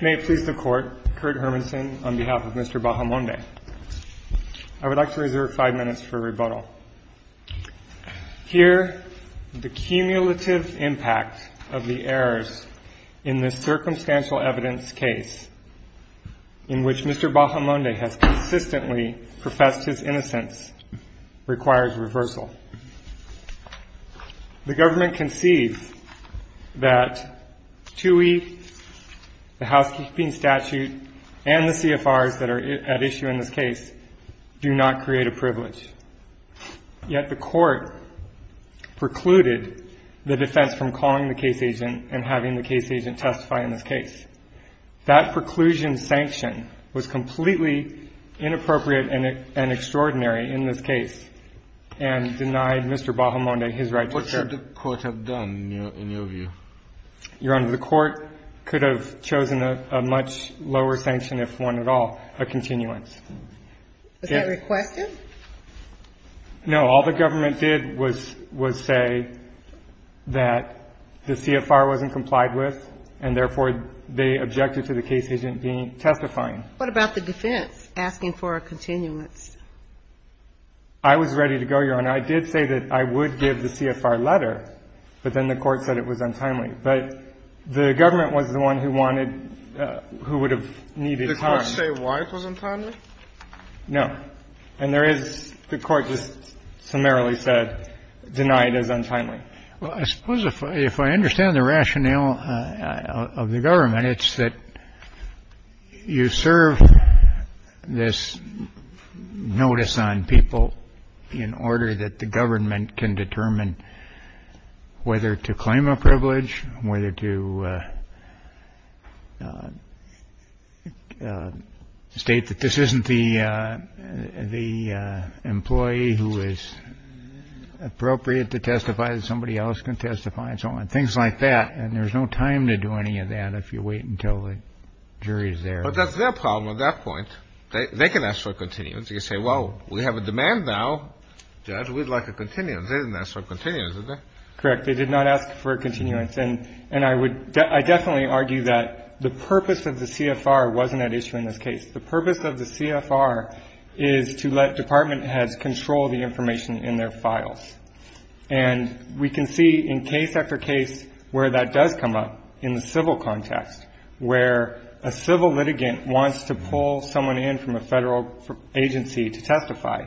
May it please the Court, Kurt Hermanson on behalf of Mr. Bahamonde. I would like to reserve five minutes for rebuttal. Here, the cumulative impact of the errors in this circumstantial evidence case in which Mr. Bahamonde has consistently professed his innocence requires reversal. The government concedes that TUI, the housekeeping statute, and the CFRs that are at issue in this case do not create a privilege. Yet the Court precluded the defense from calling the case agent and having the case agent testify in this case. That preclusion sanction was completely inappropriate and extraordinary in this case. And denied Mr. Bahamonde his right to serve. What should the Court have done, in your view? Your Honor, the Court could have chosen a much lower sanction, if one at all, a continuance. Was that requested? No. All the government did was say that the CFR wasn't complied with, and therefore they objected to the case agent being testifying. What about the defense asking for a continuance? I was ready to go, Your Honor. I did say that I would give the CFR letter, but then the Court said it was untimely. But the government was the one who wanted, who would have needed time. The Court say why it was untimely? No. And there is, the Court just summarily said, denied as untimely. Well, I suppose if I understand the rationale of the government, it's that you serve this notice on people in order that the government can determine whether to claim a privilege, whether to state that this isn't the employee who is appropriate to testify, that somebody else can testify, and so on. Things like that. And there's no time to do any of that if you wait until the jury is there. But that's their problem at that point. They can ask for a continuance. They can say, well, we have a demand now. Judge, we'd like a continuance. They didn't ask for a continuance, did they? Correct. They did not ask for a continuance. And I would, I definitely argue that the purpose of the CFR wasn't at issue in this case. The purpose of the CFR is to let department heads control the information in their files. And we can see in case after case where that does come up in the civil context, where a civil litigant wants to pull someone in from a federal agency to testify.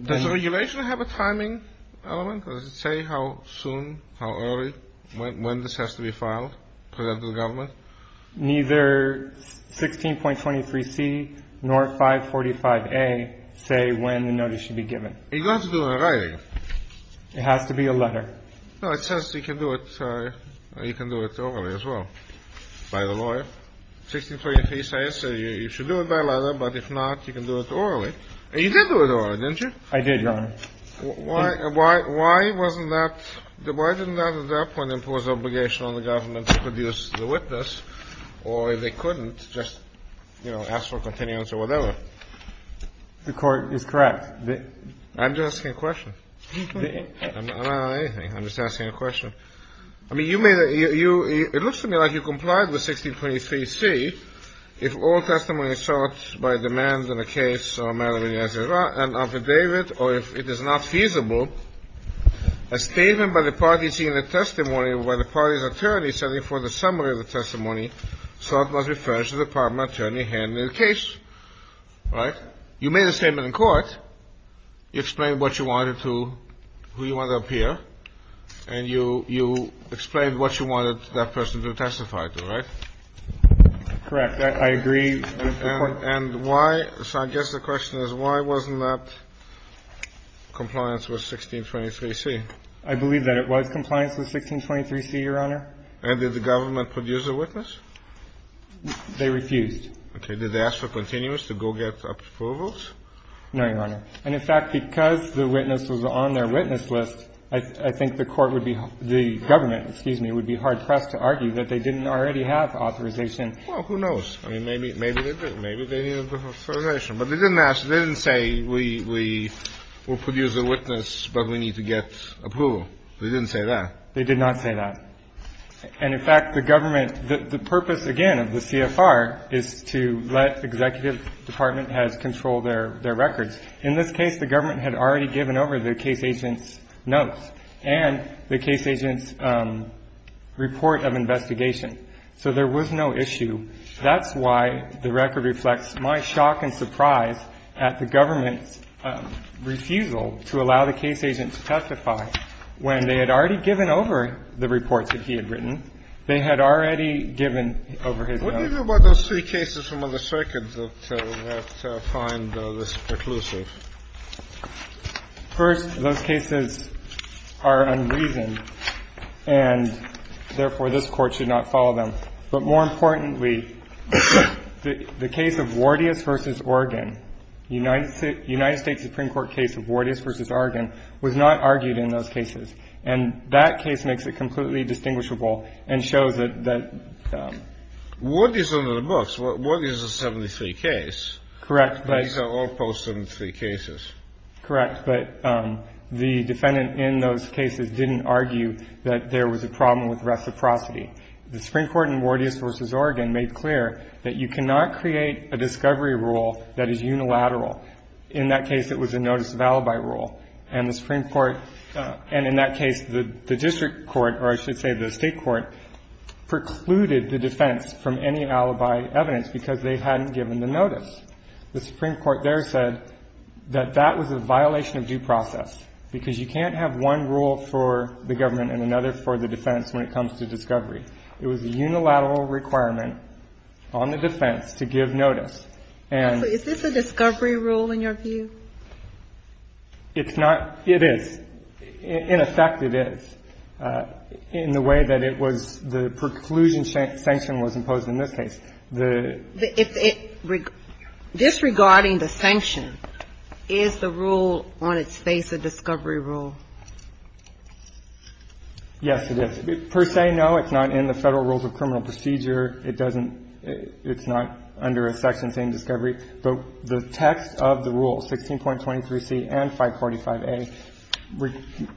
Does the regulation have a timing element? Does it say how soon, how early, when this has to be filed to the government? Neither 16.23C nor 545A say when the notice should be given. It has to be in writing. It has to be a letter. No, it says you can do it, you can do it orally as well by the lawyer. 16.23 says you should do it by letter, but if not, you can do it orally. And you did do it orally, didn't you? I did, Your Honor. Why wasn't that, why didn't that at that point impose obligation on the government to produce the witness, or if they couldn't, just, you know, ask for continuance or whatever? The Court is correct. I'm just asking a question. I'm not on anything. I'm just asking a question. I mean, you made a, you, it looks to me like you complied with 16.23C if all testimony is sought by a demand in a case or a matter of any other, and affidavit, or if it is not feasible, a statement by the party seeing the testimony by the party's attorney setting forth a summary of the testimony sought must be furnished to the department attorney handling the case, right? You made a statement in court. You explained what you wanted to, who you wanted to appear, and you explained what you wanted that person to testify to, right? Correct. I agree. And why, so I guess the question is why wasn't that compliance with 16.23C? I believe that it was compliance with 16.23C, Your Honor. And did the government produce a witness? They refused. Okay. Did they ask for continuance to go get approvals? No, Your Honor. And, in fact, because the witness was on their witness list, I think the Court would be, the government, excuse me, would be hard-pressed to argue that they didn't already have authorization. Well, who knows? I mean, maybe they did. Maybe they didn't have authorization. But they didn't ask, they didn't say we'll produce a witness, but we need to get approval. They didn't say that. They did not say that. And, in fact, the government, the purpose, again, of the CFR is to let executive department heads control their records. In this case, the government had already given over the case agent's notes and the case agent's report of investigation. So there was no issue. That's why the record reflects my shock and surprise at the government's refusal to allow the case agent to testify. When they had already given over the reports that he had written, they had already given over his notes. What do you do about those three cases from other circuits that find this preclusive? First, those cases are unreasoned. And, therefore, this Court should not follow them. But, more importantly, the case of Wardius v. Organ, United States Supreme Court case of Wardius v. Organ, was not argued in those cases. And that case makes it completely distinguishable and shows that the ---- Wardius is under the books. Wardius is a 73 case. Correct, but ---- These are all post-73 cases. Correct. But the defendant in those cases didn't argue that there was a problem with reciprocity. The Supreme Court in Wardius v. Organ made clear that you cannot create a discovery rule that is unilateral. In that case, it was a notice of alibi rule. And the Supreme Court ---- and, in that case, the district court, or I should say the State court, precluded the defense from any alibi evidence because they hadn't given the notice. The Supreme Court there said that that was a violation of due process because you can't have one rule for the government and another for the defense when it comes to discovery. It was a unilateral requirement on the defense to give notice. And ---- So is this a discovery rule in your view? It's not. It is. In effect, it is. In the way that it was the preclusion sanction was imposed in this case. The ---- Disregarding the sanction, is the rule on its face a discovery rule? Yes, it is. Per se, no. It's not in the Federal Rules of Criminal Procedure. It doesn't ---- it's not under a section saying discovery. But the text of the rule, 16.23c and 545a,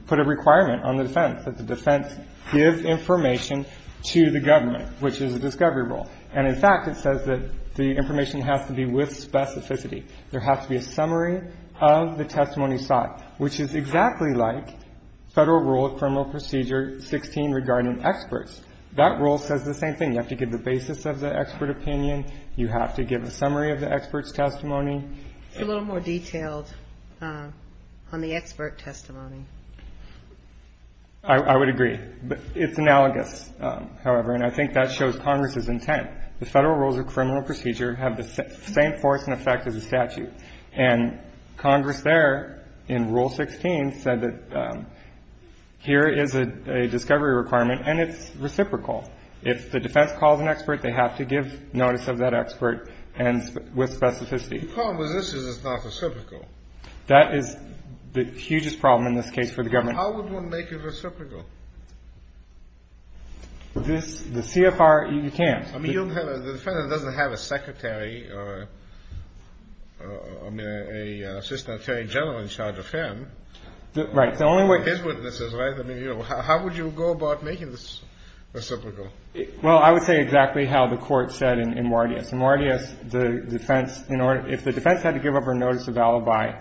put a requirement on the defense that the defense give information to the government, which is a discovery rule. And in fact, it says that the information has to be with specificity. There has to be a summary of the testimony sought, which is exactly like Federal Rule of Criminal Procedure 16 regarding experts. That rule says the same thing. You have to give the basis of the expert opinion. You have to give a summary of the expert's testimony. It's a little more detailed on the expert testimony. I would agree. It's analogous, however. And I think that shows Congress's intent. The Federal Rules of Criminal Procedure have the same force and effect as the statute. And Congress there, in Rule 16, said that here is a discovery requirement, and it's reciprocal. If the defense calls an expert, they have to give notice of that expert and with specificity. The problem with this is it's not reciprocal. That is the hugest problem in this case for the government. How would one make it reciprocal? The CFR, you can't. I mean, the defendant doesn't have a secretary, I mean, an assistant attorney general in charge of him. Right. The only way. His witnesses, right? I mean, how would you go about making this reciprocal? Well, I would say exactly how the Court said in Mordius. In Mordius, the defense, if the defense had to give up her notice of alibi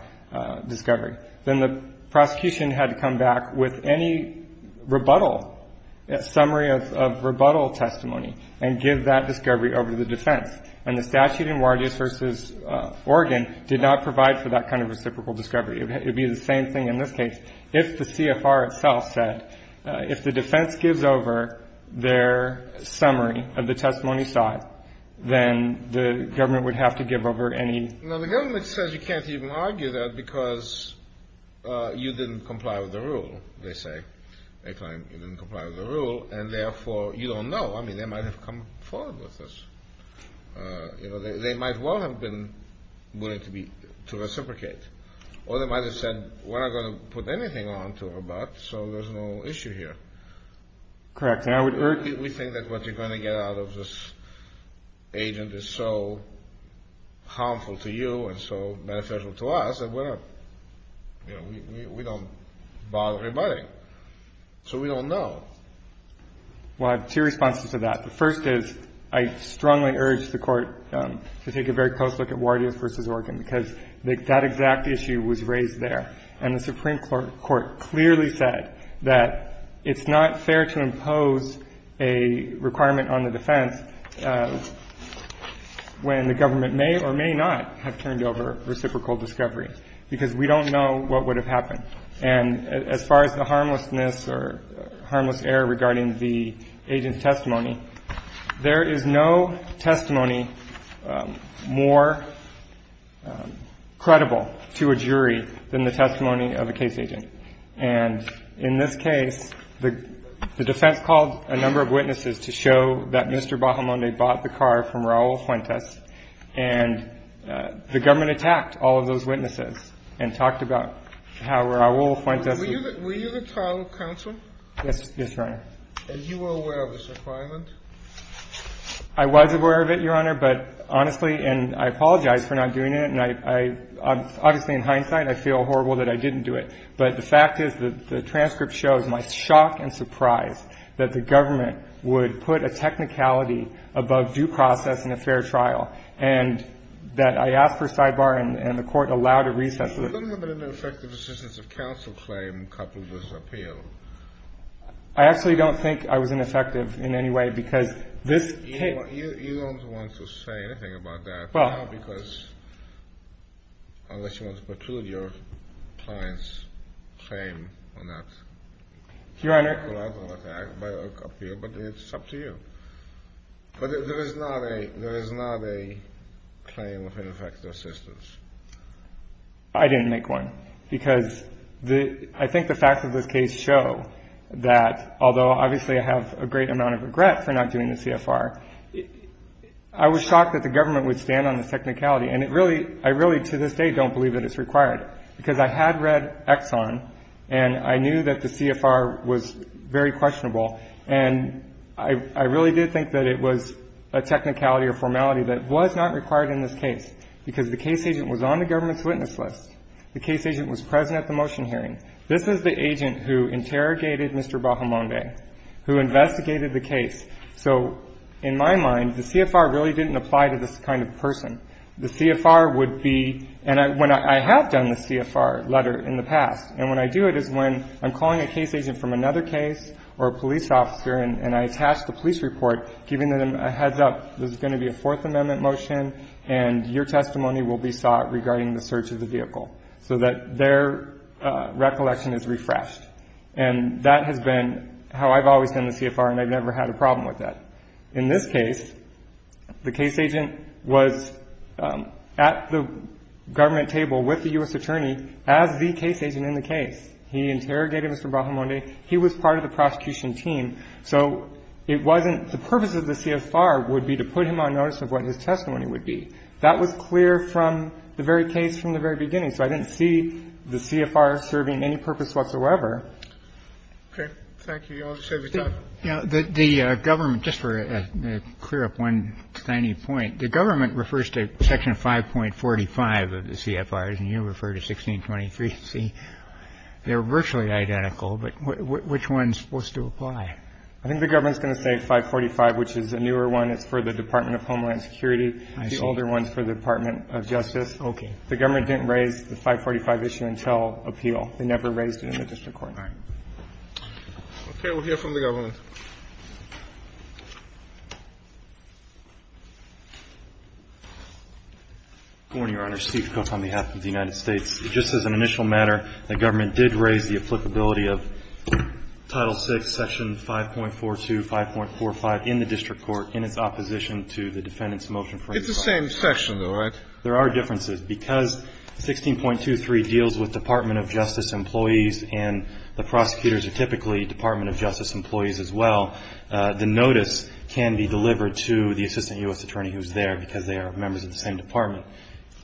discovery, then the prosecution had to come back with any rebuttal, summary of rebuttal testimony and give that discovery over to the defense. And the statute in Mordius v. Oregon did not provide for that kind of reciprocal discovery. It would be the same thing in this case. If the CFR itself said, if the defense gives over their summary of the testimony sought, then the government would have to give over any. Well, the government says you can't even argue that because you didn't comply with the rule, they say. They claim you didn't comply with the rule, and therefore you don't know. I mean, they might have come forward with this. You know, they might well have been willing to reciprocate. Or they might have said, we're not going to put anything on to her butt, so there's no issue here. Correct. We think that what you're going to get out of this agent is so harmful to you and so beneficial to us, that we don't bother rebutting. So we don't know. Well, I have two responses to that. The first is, I strongly urge the Court to take a very close look at Mordius v. Oregon, because that exact issue was raised there. And the Supreme Court clearly said that it's not fair to impose a requirement on the defense when the government may or may not have turned over reciprocal discovery, because we don't know what would have happened. And as far as the harmlessness or harmless error regarding the agent's testimony, there is no testimony more credible to a jury than the testimony of a case agent. And in this case, the defense called a number of witnesses to show that Mr. Bahamonde bought the car from Raul Fuentes, and the government attacked all of those witnesses and talked about how Raul Fuentes was ---- Were you the trial counsel? Yes, Your Honor. And you were aware of this requirement? I was aware of it, Your Honor, but honestly, and I apologize for not doing it, and obviously in hindsight, I feel horrible that I didn't do it. But the fact is that the transcript shows my shock and surprise that the government would put a technicality above due process in a fair trial, and that I asked for a sidebar, and the Court allowed a recess. There's a little bit of an effective assistance of counsel claim coupled with appeal. I actually don't think I was ineffective in any way, because this case ---- You don't want to say anything about that. Well ---- Because unless you want to protrude your client's claim on that. Your Honor ---- Well, I don't want to act up here, but it's up to you. But there is not a claim of ineffective assistance. I didn't make one, because I think the facts of this case show that, although obviously I have a great amount of regret for not doing the CFR, I was shocked that the government would stand on the technicality. And it really ---- I really to this day don't believe that it's required, because I had read Exxon, and I knew that the CFR was very questionable. And I really did think that it was a technicality or formality that was not required in this case, because the case agent was on the government's witness list. The case agent was present at the motion hearing. This is the agent who interrogated Mr. Bahamonde, who investigated the case. So in my mind, the CFR really didn't apply to this kind of person. The CFR would be ---- and I have done the CFR letter in the past. And when I do it is when I'm calling a case agent from another case or a police officer and I attach the police report, giving them a heads-up, this is going to be a Fourth Amendment motion, and your testimony will be sought regarding the search of the vehicle, so that their recollection is refreshed. And that has been how I've always done the CFR, and I've never had a problem with that. In this case, the case agent was at the government table with the U.S. attorney as the case agent in the case. He interrogated Mr. Bahamonde. He was part of the prosecution team. So it wasn't ---- the purpose of the CFR would be to put him on notice of what his testimony would be. That was clear from the very case from the very beginning. So I didn't see the CFR serving any purpose whatsoever. Okay. Thank you. You all just have your time. The government ---- just to clear up one tiny point. The government refers to Section 5.45 of the CFR, and you refer to 1623c. They're virtually identical, but which one is supposed to apply? I think the government is going to say 5.45, which is a newer one. It's for the Department of Homeland Security. I see. The older one is for the Department of Justice. Okay. The government didn't raise the 5.45 issue until appeal. They never raised it in the district court. All right. Okay. We'll hear from the government. Good morning, Your Honor. Steve Kokos on behalf of the United States. Just as an initial matter, the government did raise the applicability of Title VI, Section 5.42, 5.45 in the district court in its opposition to the defendant's motion. It's the same section, though, right? There are differences. Because 16.23 deals with Department of Justice employees and the prosecutors are typically Department of Justice employees as well, the notice can be delivered to the assistant U.S. attorney who's there because they are members of the same department.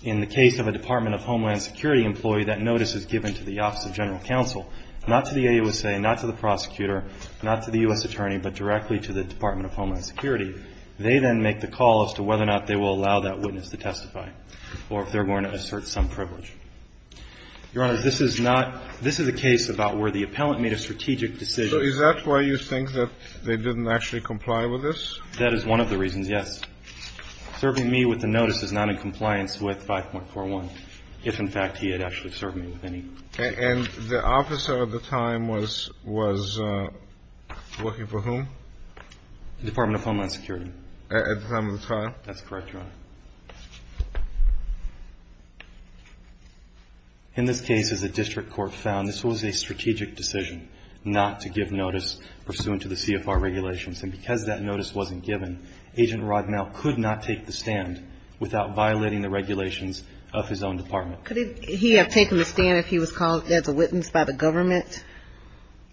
In the case of a Department of Homeland Security employee, that notice is given to the Office of General Counsel, not to the AUSA, not to the prosecutor, not to the U.S. attorney, but directly to the Department of Homeland Security. They then make the call as to whether or not they will allow that witness to testify or if they're going to assert some privilege. Your Honor, this is not – this is a case about where the appellant made a strategic decision. So is that why you think that they didn't actually comply with this? That is one of the reasons, yes. Serving me with the notice is not in compliance with 5.41 if, in fact, he had actually served me with any. And the officer at the time was working for whom? Department of Homeland Security. At the time of the trial? That's correct, Your Honor. In this case, as the district court found, this was a strategic decision not to give notice pursuant to the CFR regulations. And because that notice wasn't given, Agent Rodnell could not take the stand without violating the regulations of his own department. Could he have taken the stand if he was called as a witness by the government?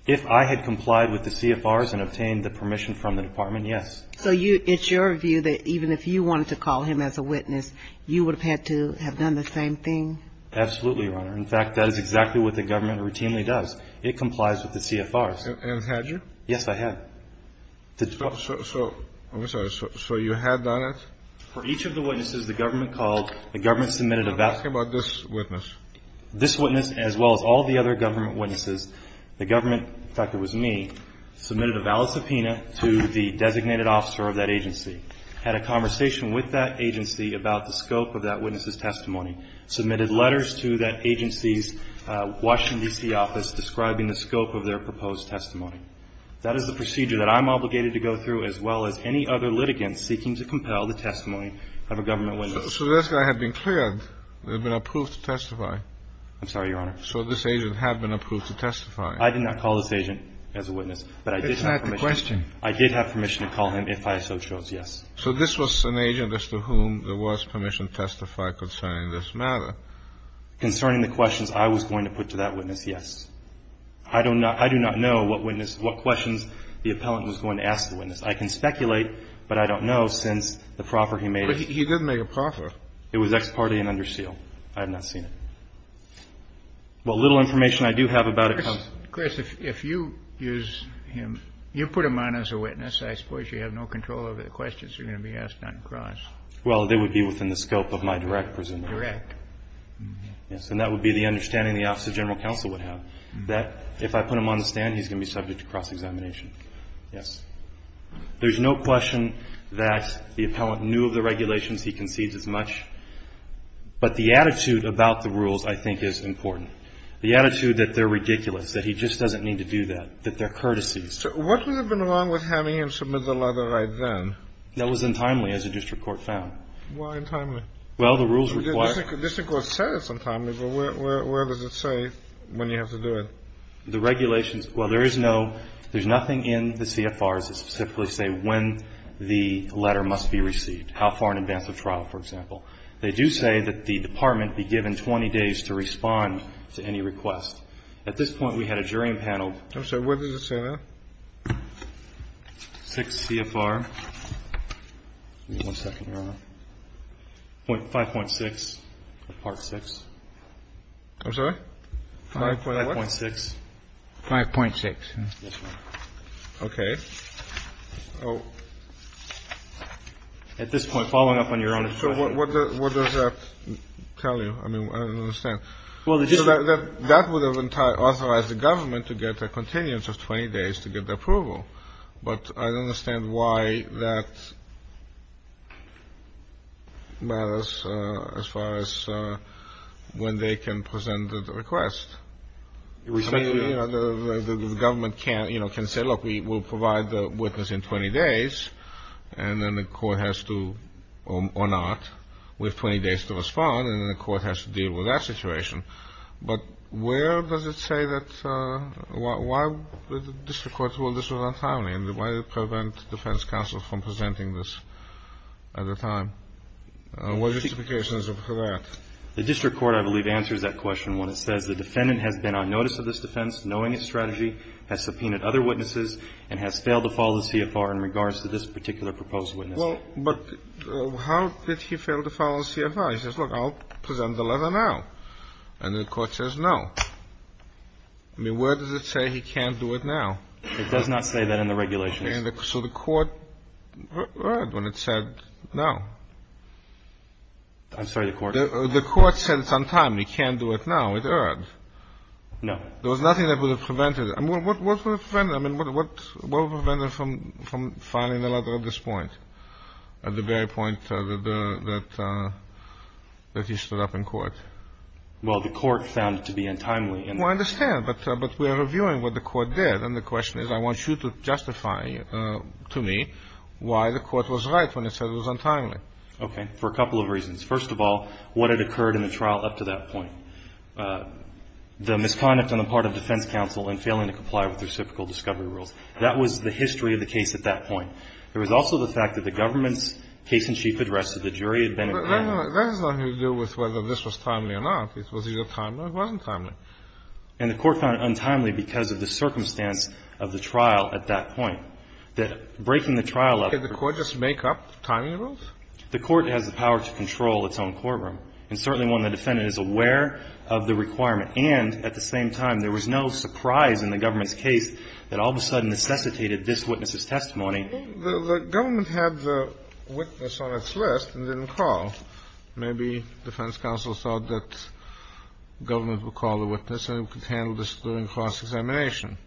If I had complied with the CFRs and obtained the permission from the department, yes. So it's your view that even if you wanted to call him as a witness, you would have had to have done the same thing? Absolutely, Your Honor. In fact, that is exactly what the government routinely does. It complies with the CFRs. And have you? Yes, I have. So you had done it? For each of the witnesses, the government called. The government submitted a valid. I'm asking about this witness. This witness, as well as all the other government witnesses. The government, in fact, it was me, submitted a valid subpoena to the designated officer of that agency, had a conversation with that agency about the scope of that witness's testimony, submitted letters to that agency's Washington, D.C., office describing the scope of their proposed testimony. That is the procedure that I'm obligated to go through, as well as any other litigants seeking to compel the testimony of a government witness. So this guy had been cleared, had been approved to testify. I'm sorry, Your Honor. So this agent had been approved to testify. I did not call this agent as a witness, but I did have permission. That's not the question. I did have permission to call him if I so chose, yes. So this was an agent as to whom there was permission to testify concerning this matter? Concerning the questions I was going to put to that witness, yes. I do not know what witness, what questions the appellant was going to ask the witness. I can speculate, but I don't know since the proffer he made. But he did make a proffer. It was ex parte and under seal. I have not seen it. Well, little information I do have about it. Chris, if you use him, you put him on as a witness, I suppose you have no control over the questions you're going to be asked on the cross. Well, they would be within the scope of my direct presumption. Direct. Yes. And that would be the understanding the Office of General Counsel would have, that if I put him on the stand, he's going to be subject to cross-examination. Yes. There's no question that the appellant knew of the regulations. He concedes as much. But the attitude about the rules, I think, is important. The attitude that they're ridiculous, that he just doesn't need to do that, that they're courtesies. What would have been wrong with having him submit the letter right then? That was untimely, as the district court found. Why untimely? Well, the rules required. The district court said it's untimely, but where does it say when you have to do it? The regulations, well, there is no, there's nothing in the CFRs that specifically say when the letter must be received, how far in advance of trial, for example. They do say that the department be given 20 days to respond to any request. At this point, we had a jury panel. I'm sorry, where does it say that? 6 CFR. Give me one second, Your Honor. 5.6, part 6. I'm sorry? 5.6. 5.6. Okay. At this point, following up on Your Honor's question. So what does that tell you? I mean, I don't understand. That would have authorized the government to get a continuance of 20 days to get the approval. But I don't understand why that matters as far as when they can present the request. I mean, you know, the government can, you know, can say, look, we'll provide the witness in 20 days, and then the court has to, or not, we have 20 days to respond, and then the court has to deal with that situation. But where does it say that? Why would the district court rule this was untimely? And why prevent defense counsel from presenting this at the time? What justification is there for that? The district court, I believe, answers that question when it says, the defendant has been on notice of this defense, knowing its strategy, has subpoenaed other witnesses, and has failed to follow the CFR in regards to this particular proposed witness. Well, but how did he fail to follow the CFR? He says, look, I'll present the letter now. And the court says no. I mean, where does it say he can't do it now? It does not say that in the regulations. So the court erred when it said no. I'm sorry, the court? The court said it's untimely. He can't do it now. It erred. No. There was nothing that would have prevented it. I mean, what would have prevented it from filing the letter at this point, at the very point that he stood up in court? Well, the court found it to be untimely. Well, I understand. But we are reviewing what the court did. And the question is, I want you to justify to me why the court was right when it said it was untimely. Okay. For a couple of reasons. First of all, what had occurred in the trial up to that point. The misconduct on the part of defense counsel in failing to comply with reciprocal discovery rules. That was the history of the case at that point. There was also the fact that the government's case-in-chief addressed that the jury had been around. That has nothing to do with whether this was timely or not. It was either timely or it wasn't timely. And the court found it untimely because of the circumstance of the trial at that point. That breaking the trial up. Did the court just make up timing rules? The court has the power to control its own courtroom. And certainly when the defendant is aware of the requirement and at the same time there was no surprise in the government's case that all of a sudden necessitated this witness's testimony. The government had the witness on its list and didn't call. Maybe defense counsel thought that the government would call the witness and it could handle this during cross-examination.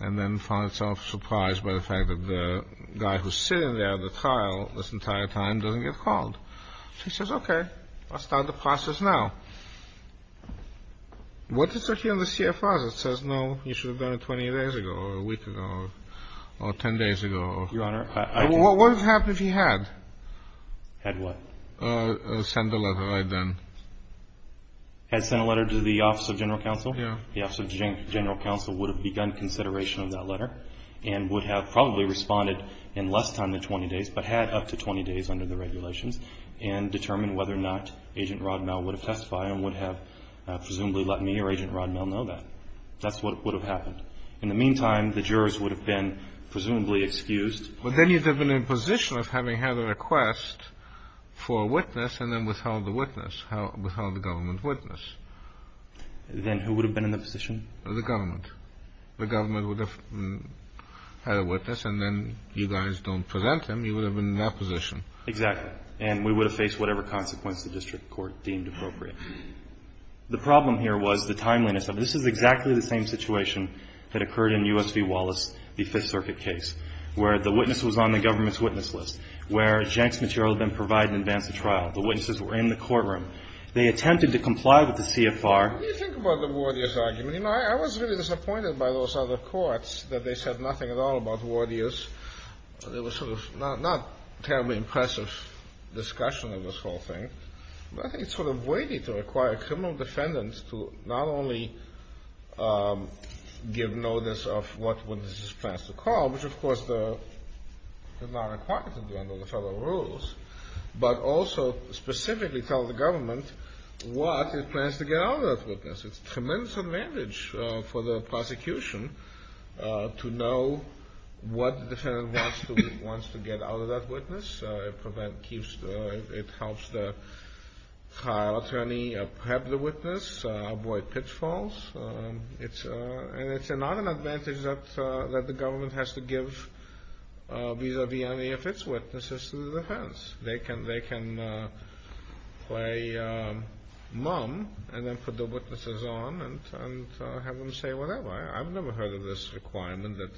And then found itself surprised by the fact that the guy who's sitting there at the trial this entire time doesn't get called. He says, okay, I'll start the process now. What does it say here on the CFRs? It says, no, you should have done it 20 days ago or a week ago or 10 days ago. Your Honor, I didn't. What would have happened if he had? Had what? Sent a letter right then. Had sent a letter to the Office of General Counsel? Yeah. The Office of General Counsel would have begun consideration of that letter and would have probably responded in less time than 20 days, but had up to 20 days under the regulations and determined whether or not Agent Rodmel would have testified and would have presumably let me or Agent Rodmel know that. That's what would have happened. In the meantime, the jurors would have been presumably excused. But then you'd have been in a position of having had a request for a witness and then withheld the witness, withheld the government witness. Then who would have been in the position? The government. The government would have had a witness and then you guys don't present him, you would have been in that position. Exactly. And we would have faced whatever consequence the district court deemed appropriate. The problem here was the timeliness of it. This is exactly the same situation that occurred in U.S. v. Wallace, the Fifth Circuit case, where the witness was on the government's witness list, where Jenks material had been provided in advance of trial. The witnesses were in the courtroom. They attempted to comply with the CFR. What do you think about the Wardius argument? You know, I was really disappointed by those other courts, that they said nothing at all about Wardius. There was sort of not terribly impressive discussion of this whole thing. But I think it's sort of weighty to require criminal defendants to not only give notice of what witnesses plans to call, which, of course, they're not required to do under the federal rules, but also specifically tell the government what it plans to get out of that witness. It's a tremendous advantage for the prosecution to know what the defendant wants to get out of that witness. It helps the trial attorney have the witness, avoid pitfalls. And it's not an advantage that the government has to give vis-a-vis any of its witnesses to the defense. They can play mom and then put the witnesses on and have them say whatever. I've never heard of this requirement that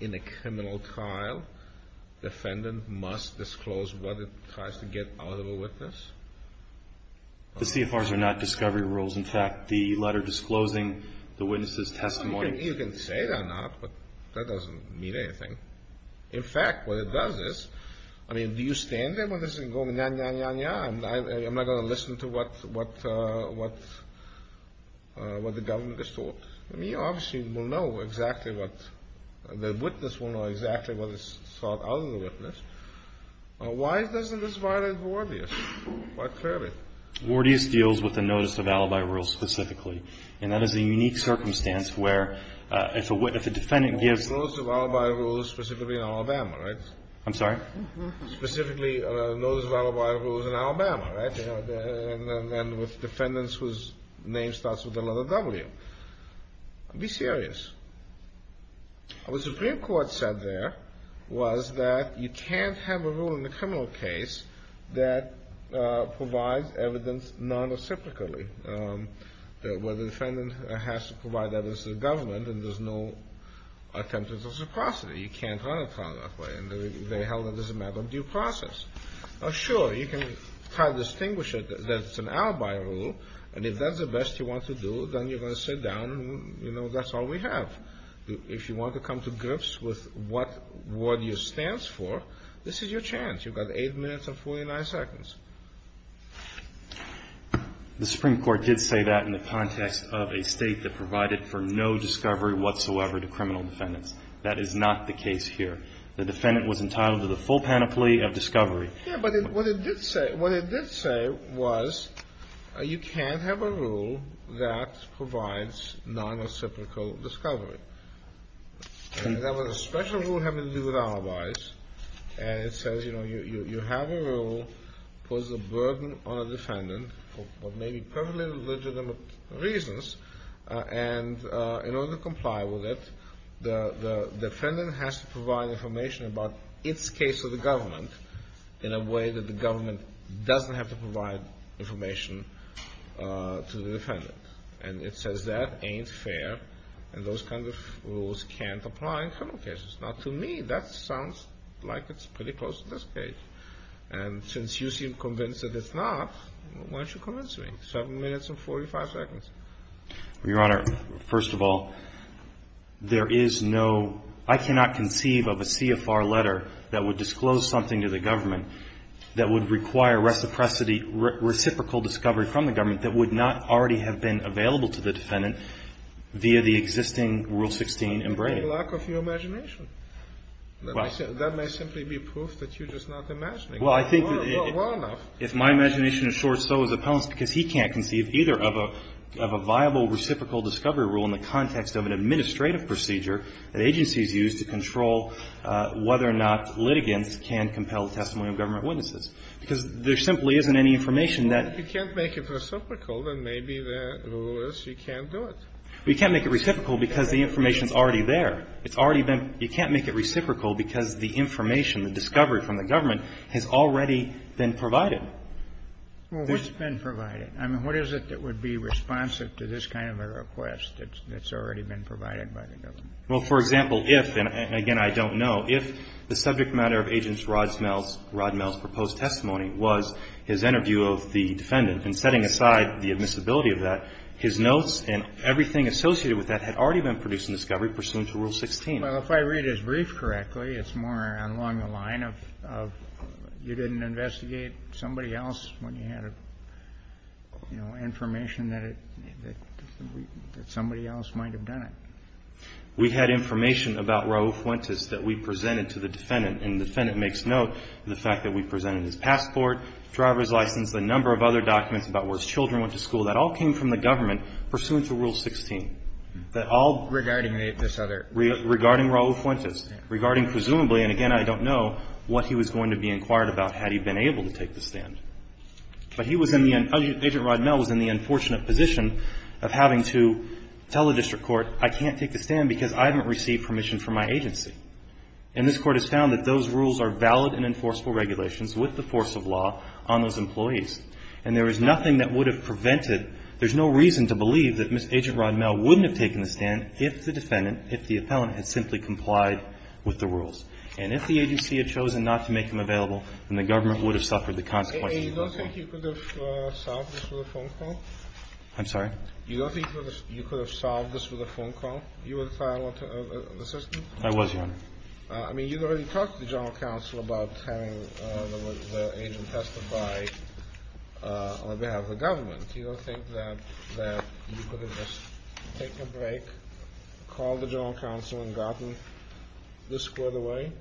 in a criminal trial, defendant must disclose what it tries to get out of a witness. The CFRs are not discovery rules. In fact, the letter disclosing the witness's testimony – You can say they're not, but that doesn't mean anything. In fact, what it does is – I mean, do you stand there when this is going on? I'm not going to listen to what the government has thought. I mean, obviously, we'll know exactly what – the witness will know exactly what is thought out of the witness. Why doesn't this violate Vordius? Why curb it? Vordius deals with the notice of alibi rules specifically. And that is a unique circumstance where if a defendant gives – specifically in Alabama, right? I'm sorry? Specifically, notice of alibi rules in Alabama, right? And with defendants whose name starts with the letter W. Be serious. What the Supreme Court said there was that you can't have a rule in a criminal case that provides evidence non-reciprocally. Where the defendant has to provide evidence to the government and there's no attempt at reciprocity. You can't run a trial that way. And they held it as a matter of due process. Now, sure, you can try to distinguish that it's an alibi rule. And if that's the best you want to do, then you're going to sit down and, you know, that's all we have. If you want to come to grips with what Vordius stands for, this is your chance. You've got 8 minutes and 49 seconds. The Supreme Court did say that in the context of a state that provided for no discovery whatsoever to criminal defendants. That is not the case here. The defendant was entitled to the full panoply of discovery. Yeah, but what it did say was you can't have a rule that provides non-reciprocal discovery. And that was a special rule having to do with alibis. And it says, you know, you have a rule that poses a burden on a defendant for what may be perfectly legitimate reasons. And in order to comply with it, the defendant has to provide information about its case to the government in a way that the government doesn't have to provide information to the defendant. And it says that ain't fair, and those kind of rules can't apply in criminal cases. Now, to me, that sounds like it's pretty close to this case. And since you seem convinced that it's not, why don't you convince me? 7 minutes and 45 seconds. Your Honor, first of all, there is no – I cannot conceive of a CFR letter that would disclose something to the government that would require reciprocity – reciprocal discovery from the government that would not already have been available to the defendant via the existing Rule 16 in Braille. That would be a lack of your imagination. That may simply be proof that you're just not imagining it. Well, I think that if my imagination is short, so is the defendant's, because he can't conceive either of a viable reciprocal discovery rule in the context of an administrative procedure that agencies use to control whether or not litigants can compel the testimony of government witnesses. Because there simply isn't any information that – Well, if you can't make it reciprocal, then maybe the rule is you can't do it. Well, you can't make it reciprocal because the information is already there. It's already been – you can't make it reciprocal because the information, the discovery from the government, has already been provided. Well, what's been provided? I mean, what is it that would be responsive to this kind of a request that's already been provided by the government? Well, for example, if – and again, I don't know – if the subject matter of Agent Rodmel's proposed testimony was his interview of the defendant and setting aside the admissibility of that, his notes and everything associated with that had already been produced in discovery pursuant to Rule 16. Well, if I read his brief correctly, it's more along the line of you didn't investigate somebody else when you had, you know, information that somebody else might have done it. We had information about Raul Fuentes that we presented to the defendant, and the defendant makes note of the fact that we presented his passport, driver's license, a number of other documents about where his children went to school. That all came from the government pursuant to Rule 16. That all – Regarding this other – Regarding Raul Fuentes. Regarding presumably – and again, I don't know what he was going to be inquired about had he been able to take the stand. But he was in the – Agent Rodmel was in the unfortunate position of having to tell the district court, I can't take the stand because I haven't received permission from my agency. And this Court has found that those rules are valid and enforceable regulations with the force of law on those employees. And there is nothing that would have prevented – there's no reason to believe that Agent Rodmel wouldn't have taken the stand if the defendant, if the appellant, had simply complied with the rules. And if the agency had chosen not to make him available, then the government would have suffered the consequences. You don't think you could have solved this with a phone call? I'm sorry? You don't think you could have solved this with a phone call? You were the file assistant? I was, Your Honor. I mean, you've already talked to the general counsel about having the agent testified on behalf of the government. You don't think that you could have just taken a break, called the general counsel, and gotten this squared away?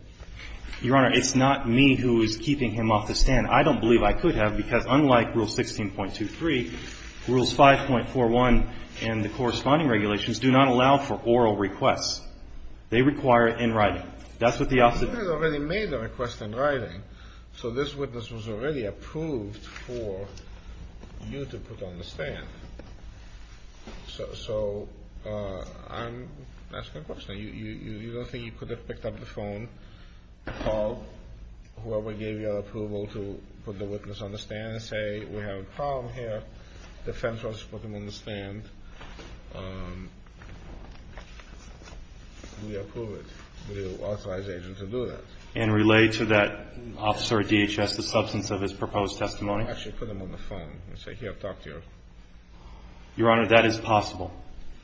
Your Honor, it's not me who is keeping him off the stand. I don't believe I could have, because unlike Rule 16.23, Rules 5.41 and the corresponding regulations do not allow for oral requests. They require it in writing. That's what the officer did. You guys already made the request in writing, so this witness was already approved for you to put on the stand. So I'm asking a question. You don't think you could have picked up the phone, called whoever gave you approval to put the witness on the stand and say, we have a problem here. If the defense wants to put him on the stand, we approve it. We will authorize the agent to do that. And relay to that officer at DHS the substance of his proposed testimony? Actually put him on the phone and say, here, talk to your officer. Your Honor, that is possible.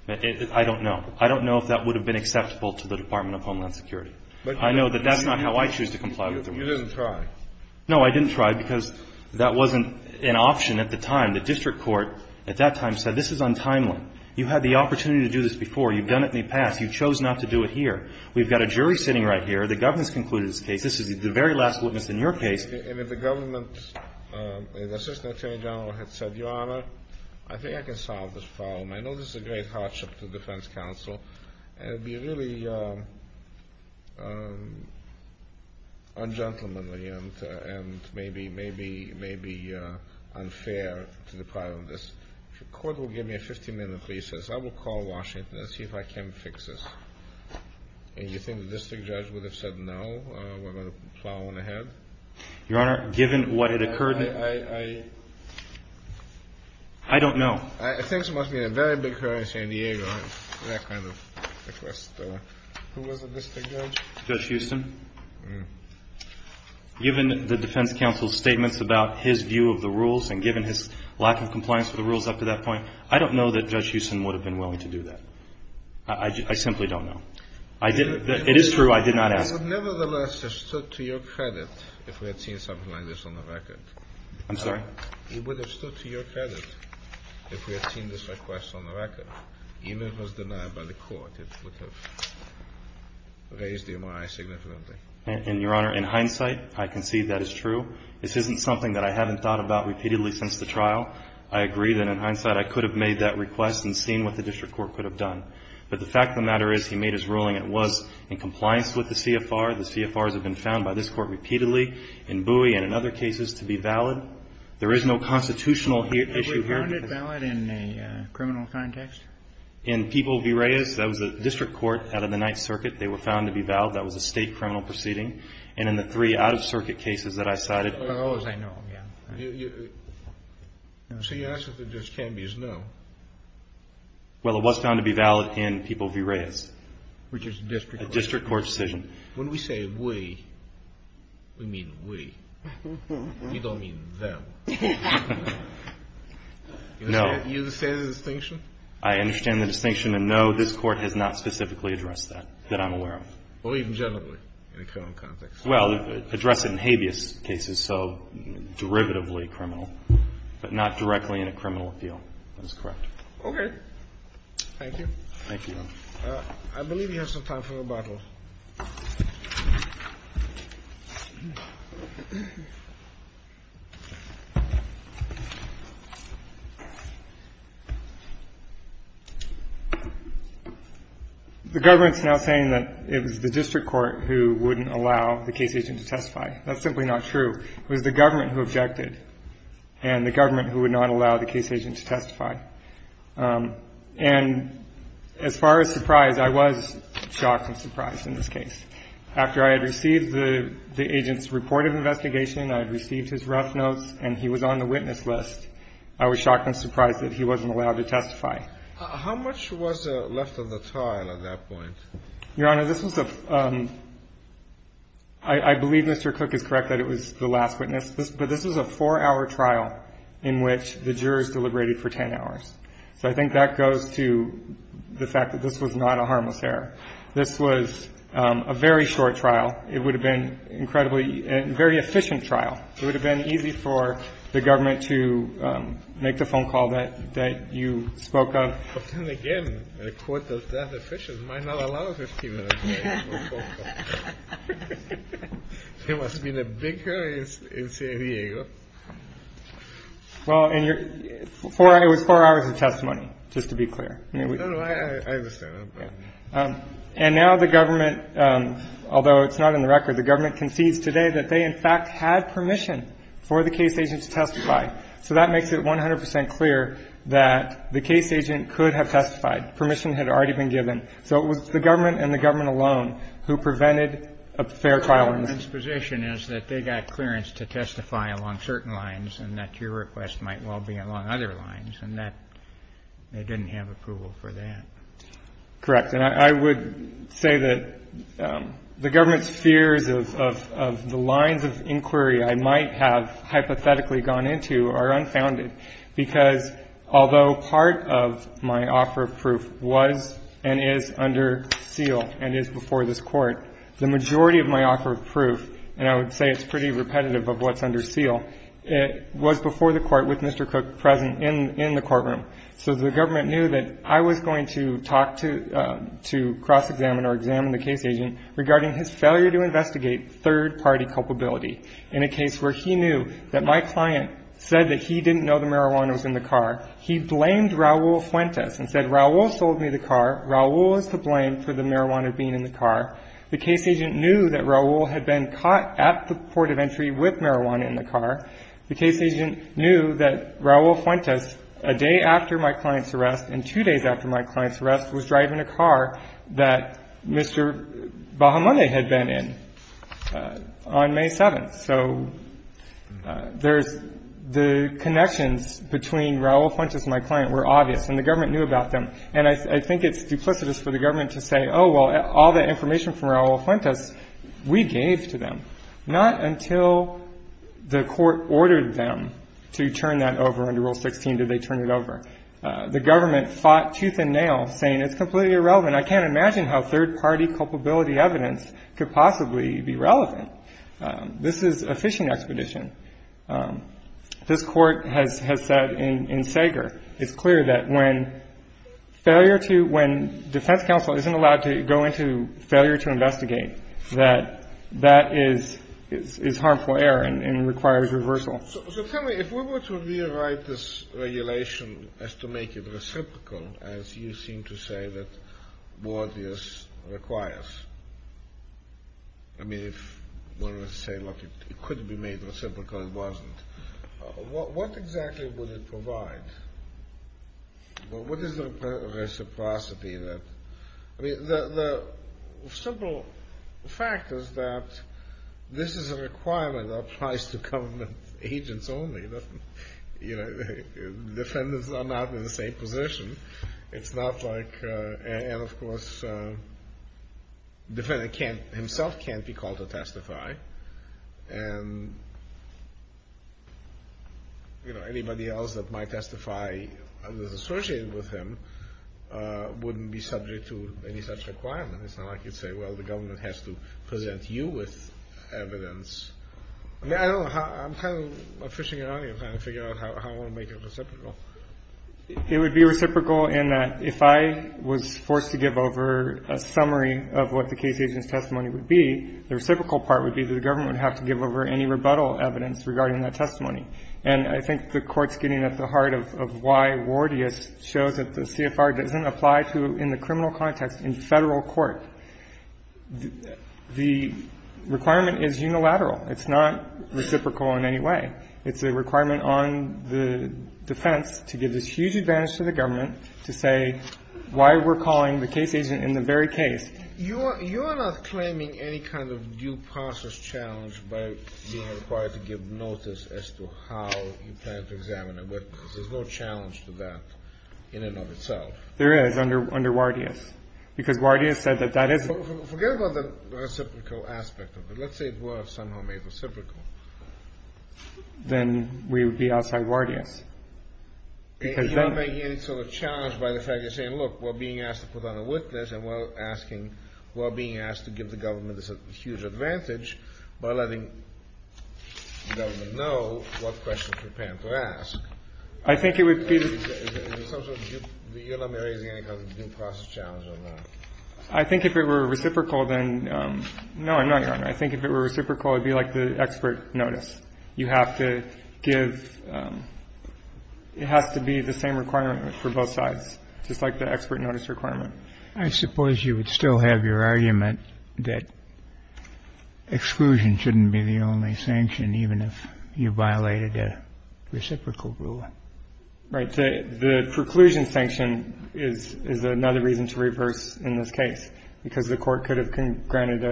I don't know. I don't know if that would have been acceptable to the Department of Homeland Security. I know that that's not how I choose to comply with the rules. You didn't try. No, I didn't try, because that wasn't an option at the time. The district court at that time said, this is untimely. You had the opportunity to do this before. You've done it in the past. You chose not to do it here. We've got a jury sitting right here. The government's concluded this case. This is the very last witness in your case. And if the government, the Assistant Attorney General had said, Your Honor, I think I can solve this problem. I know this is a great hardship to the defense counsel, and it would be really ungentlemanly and maybe unfair to the part of this. If the court will give me a 15-minute recess, I will call Washington and see if I can fix this. And you think the district judge would have said, no, we're going to plow on ahead? Your Honor, given what had occurred, I don't know. I think it must have been a very big hurry in San Diego, that kind of request. Who was the district judge? Judge Houston. Given the defense counsel's statements about his view of the rules, and given his lack of compliance with the rules up to that point, I don't know that Judge Houston would have been willing to do that. I simply don't know. It is true, I did not ask. I would nevertheless have stood to your credit if we had seen something like this on the record. I'm sorry? You would have stood to your credit if we had seen this request on the record, even if it was denied by the court. In your honor, in hindsight, I concede that is true. This isn't something that I haven't thought about repeatedly since the trial. I agree that in hindsight I could have made that request and seen what the district court could have done. But the fact of the matter is he made his ruling. It was in compliance with the CFR. The CFRs have been found by this court repeatedly in Bowie and in other cases to be valid. There is no constitutional issue here. Was it found invalid in a criminal context? In People v. Reyes, that was a district court out of the Ninth Circuit. They were found to be valid. That was a state criminal proceeding. And in the three out-of-circuit cases that I cited. As far as I know, yeah. So your answer to Judge Canby is no. Well, it was found to be valid in People v. Reyes. Which is a district court decision. A district court decision. When we say we, we mean we. We don't mean them. No. You understand the distinction? I understand the distinction. And no, this Court has not specifically addressed that, that I'm aware of. Or even generally in a criminal context. Well, addressed in habeas cases, so derivatively criminal. But not directly in a criminal appeal. That is correct. Okay. Thank you. Thank you. I believe we have some time for rebuttals. The government is now saying that it was the district court who wouldn't allow the case agent to testify. That's simply not true. It was the government who objected. And the government who would not allow the case agent to testify. And as far as surprise, I was shocked and surprised in this case. After I had received the agent's report of investigation, I had received his rough notes, and he was on the witness list, I was shocked and surprised that he wasn't allowed to testify. How much was left of the trial at that point? Your Honor, this was a, I believe Mr. Cook is correct that it was the last witness. But this was a four-hour trial in which the jurors deliberated for ten hours. So I think that goes to the fact that this was not a harmless error. This was a very short trial. It would have been incredibly, a very efficient trial. It would have been easy for the government to make the phone call that you spoke of. But then again, a court that efficient might not allow a 15-minute phone call. There must have been a big hurry in San Diego. Well, it was four hours of testimony, just to be clear. No, no, I understand. And now the government, although it's not in the record, the government concedes today that they in fact had permission for the case agent to testify. So that makes it 100 percent clear that the case agent could have testified. Permission had already been given. So it was the government and the government alone who prevented a fair trial. The government's position is that they got clearance to testify along certain lines and that your request might well be along other lines, and that they didn't have approval for that. Correct. And I would say that the government's fears of the lines of inquiry I might have hypothetically gone into are unfounded, because although part of my offer of proof was and is under seal and is before this Court, the majority of my offer of proof, and I would say it's pretty repetitive of what's under seal, was before the Court with Mr. Cook present in the courtroom. So the government knew that I was going to talk to cross-examine or examine the case agent regarding his failure to investigate third-party culpability in a case where he knew that my client said that he didn't know the marijuana was in the car. He blamed Raul Fuentes and said, Raul sold me the car. Raul was to blame for the marijuana being in the car. The case agent knew that Raul had been caught at the port of entry with marijuana in the car. The case agent knew that Raul Fuentes, a day after my client's arrest and two days after my client's arrest, was driving a car that Mr. Bahamonde had been in on May 7th. So there's the connections between Raul Fuentes and my client were obvious, and the government knew about them. And I think it's duplicitous for the government to say, oh, well, all that information from Raul Fuentes, we gave to them. Not until the Court ordered them to turn that over under Rule 16 did they turn it over. The government fought tooth and nail, saying it's completely irrelevant. I can't imagine how third-party culpability evidence could possibly be relevant. This is a fishing expedition. This Court has said in Sager, it's clear that when defense counsel isn't allowed to go into failure to investigate, that that is harmful error and requires reversal. So tell me, if we were to rewrite this regulation as to make it reciprocal, as you seem to say that Boardius requires, I mean, if we were to say, look, it could be made reciprocal, it wasn't. What exactly would it provide? What is the reciprocity? The simple fact is that this is a requirement that applies to government agents only. Defendants are not in the same position. And, of course, defendant himself can't be called to testify. And, you know, anybody else that might testify and is associated with him wouldn't be subject to any such requirement. It's not like you'd say, well, the government has to present you with evidence. I mean, I don't know. I'm kind of fishing around here trying to figure out how I want to make it reciprocal. It would be reciprocal in that if I was forced to give over a summary of what the case agent's testimony would be, the reciprocal part would be that the government would have to give over any rebuttal evidence regarding that testimony. And I think the Court's getting at the heart of why Wardius shows that the CFR doesn't apply to, in the criminal context, in Federal court. The requirement is unilateral. It's not reciprocal in any way. It's a requirement on the defense to give this huge advantage to the government to say why we're calling the case agent in the very case. You are not claiming any kind of due process challenge by being required to give notice as to how you plan to examine a witness. There's no challenge to that in and of itself. There is under Wardius, because Wardius said that that is the case. Then we would be outside Wardius. You're not making any sort of challenge by the fact that you're saying, look, we're being asked to put on a witness, and we're being asked to give the government this huge advantage by letting the government know what questions we're prepared to ask. I think it would be... Is there some sort of due process challenge on that? I think if it were reciprocal, then no, Your Honor. I think if it were reciprocal, it would be like the expert notice. You have to give... It has to be the same requirement for both sides, just like the expert notice requirement. I suppose you would still have your argument that exclusion shouldn't be the only sanction, even if you violated a reciprocal rule. Right. The preclusion sanction is another reason to reverse in this case, because the court could have granted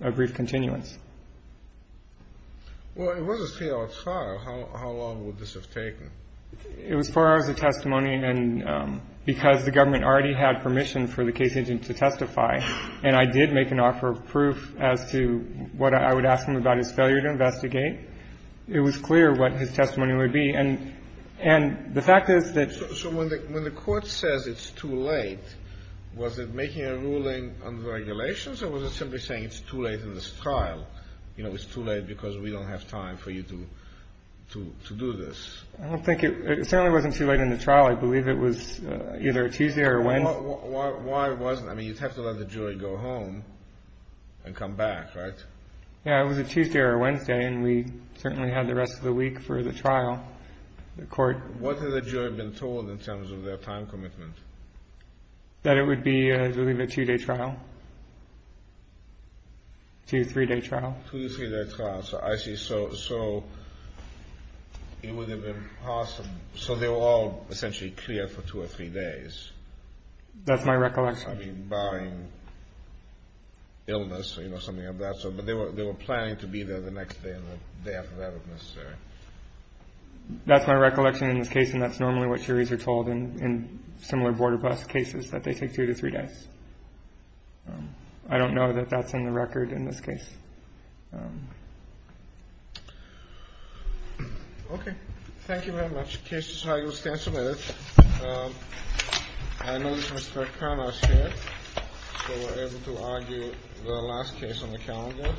a brief continuance. Well, it was a three-hour trial. How long would this have taken? It was four hours of testimony, and because the government already had permission for the case agent to testify, and I did make an offer of proof as to what I would ask him about his failure to investigate, it was clear what his testimony would be. And the fact is that... So when the court says it's too late, was it making a ruling under the regulations, or was it simply saying it's too late in this trial? You know, it's too late because we don't have time for you to do this. I don't think it... It certainly wasn't too late in the trial. I believe it was either a Tuesday or a Wednesday. Why wasn't... I mean, you'd have to let the jury go home and come back, right? Yeah, it was a Tuesday or a Wednesday, and we certainly had the rest of the week for the trial. The court... What had the jury been told in terms of their time commitment? That it would be, I believe, a two-day trial. Two, three-day trial. Two, three-day trial. I see. So it would have been possible... So they were all essentially clear for two or three days. That's my recollection. I mean, barring illness, you know, something of that sort. But they were planning to be there the next day and the day after that, if necessary. That's my recollection in this case, and that's normally what juries are told in similar border bus cases, that they take two to three days. I don't know that that's in the record in this case. Okay. Thank you very much. The case is highly substantive. I notice Mr. Karnas is here, so we're able to argue the last case on the calendar.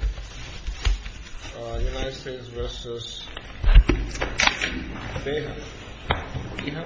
United States v. Beha. Beha? Beha.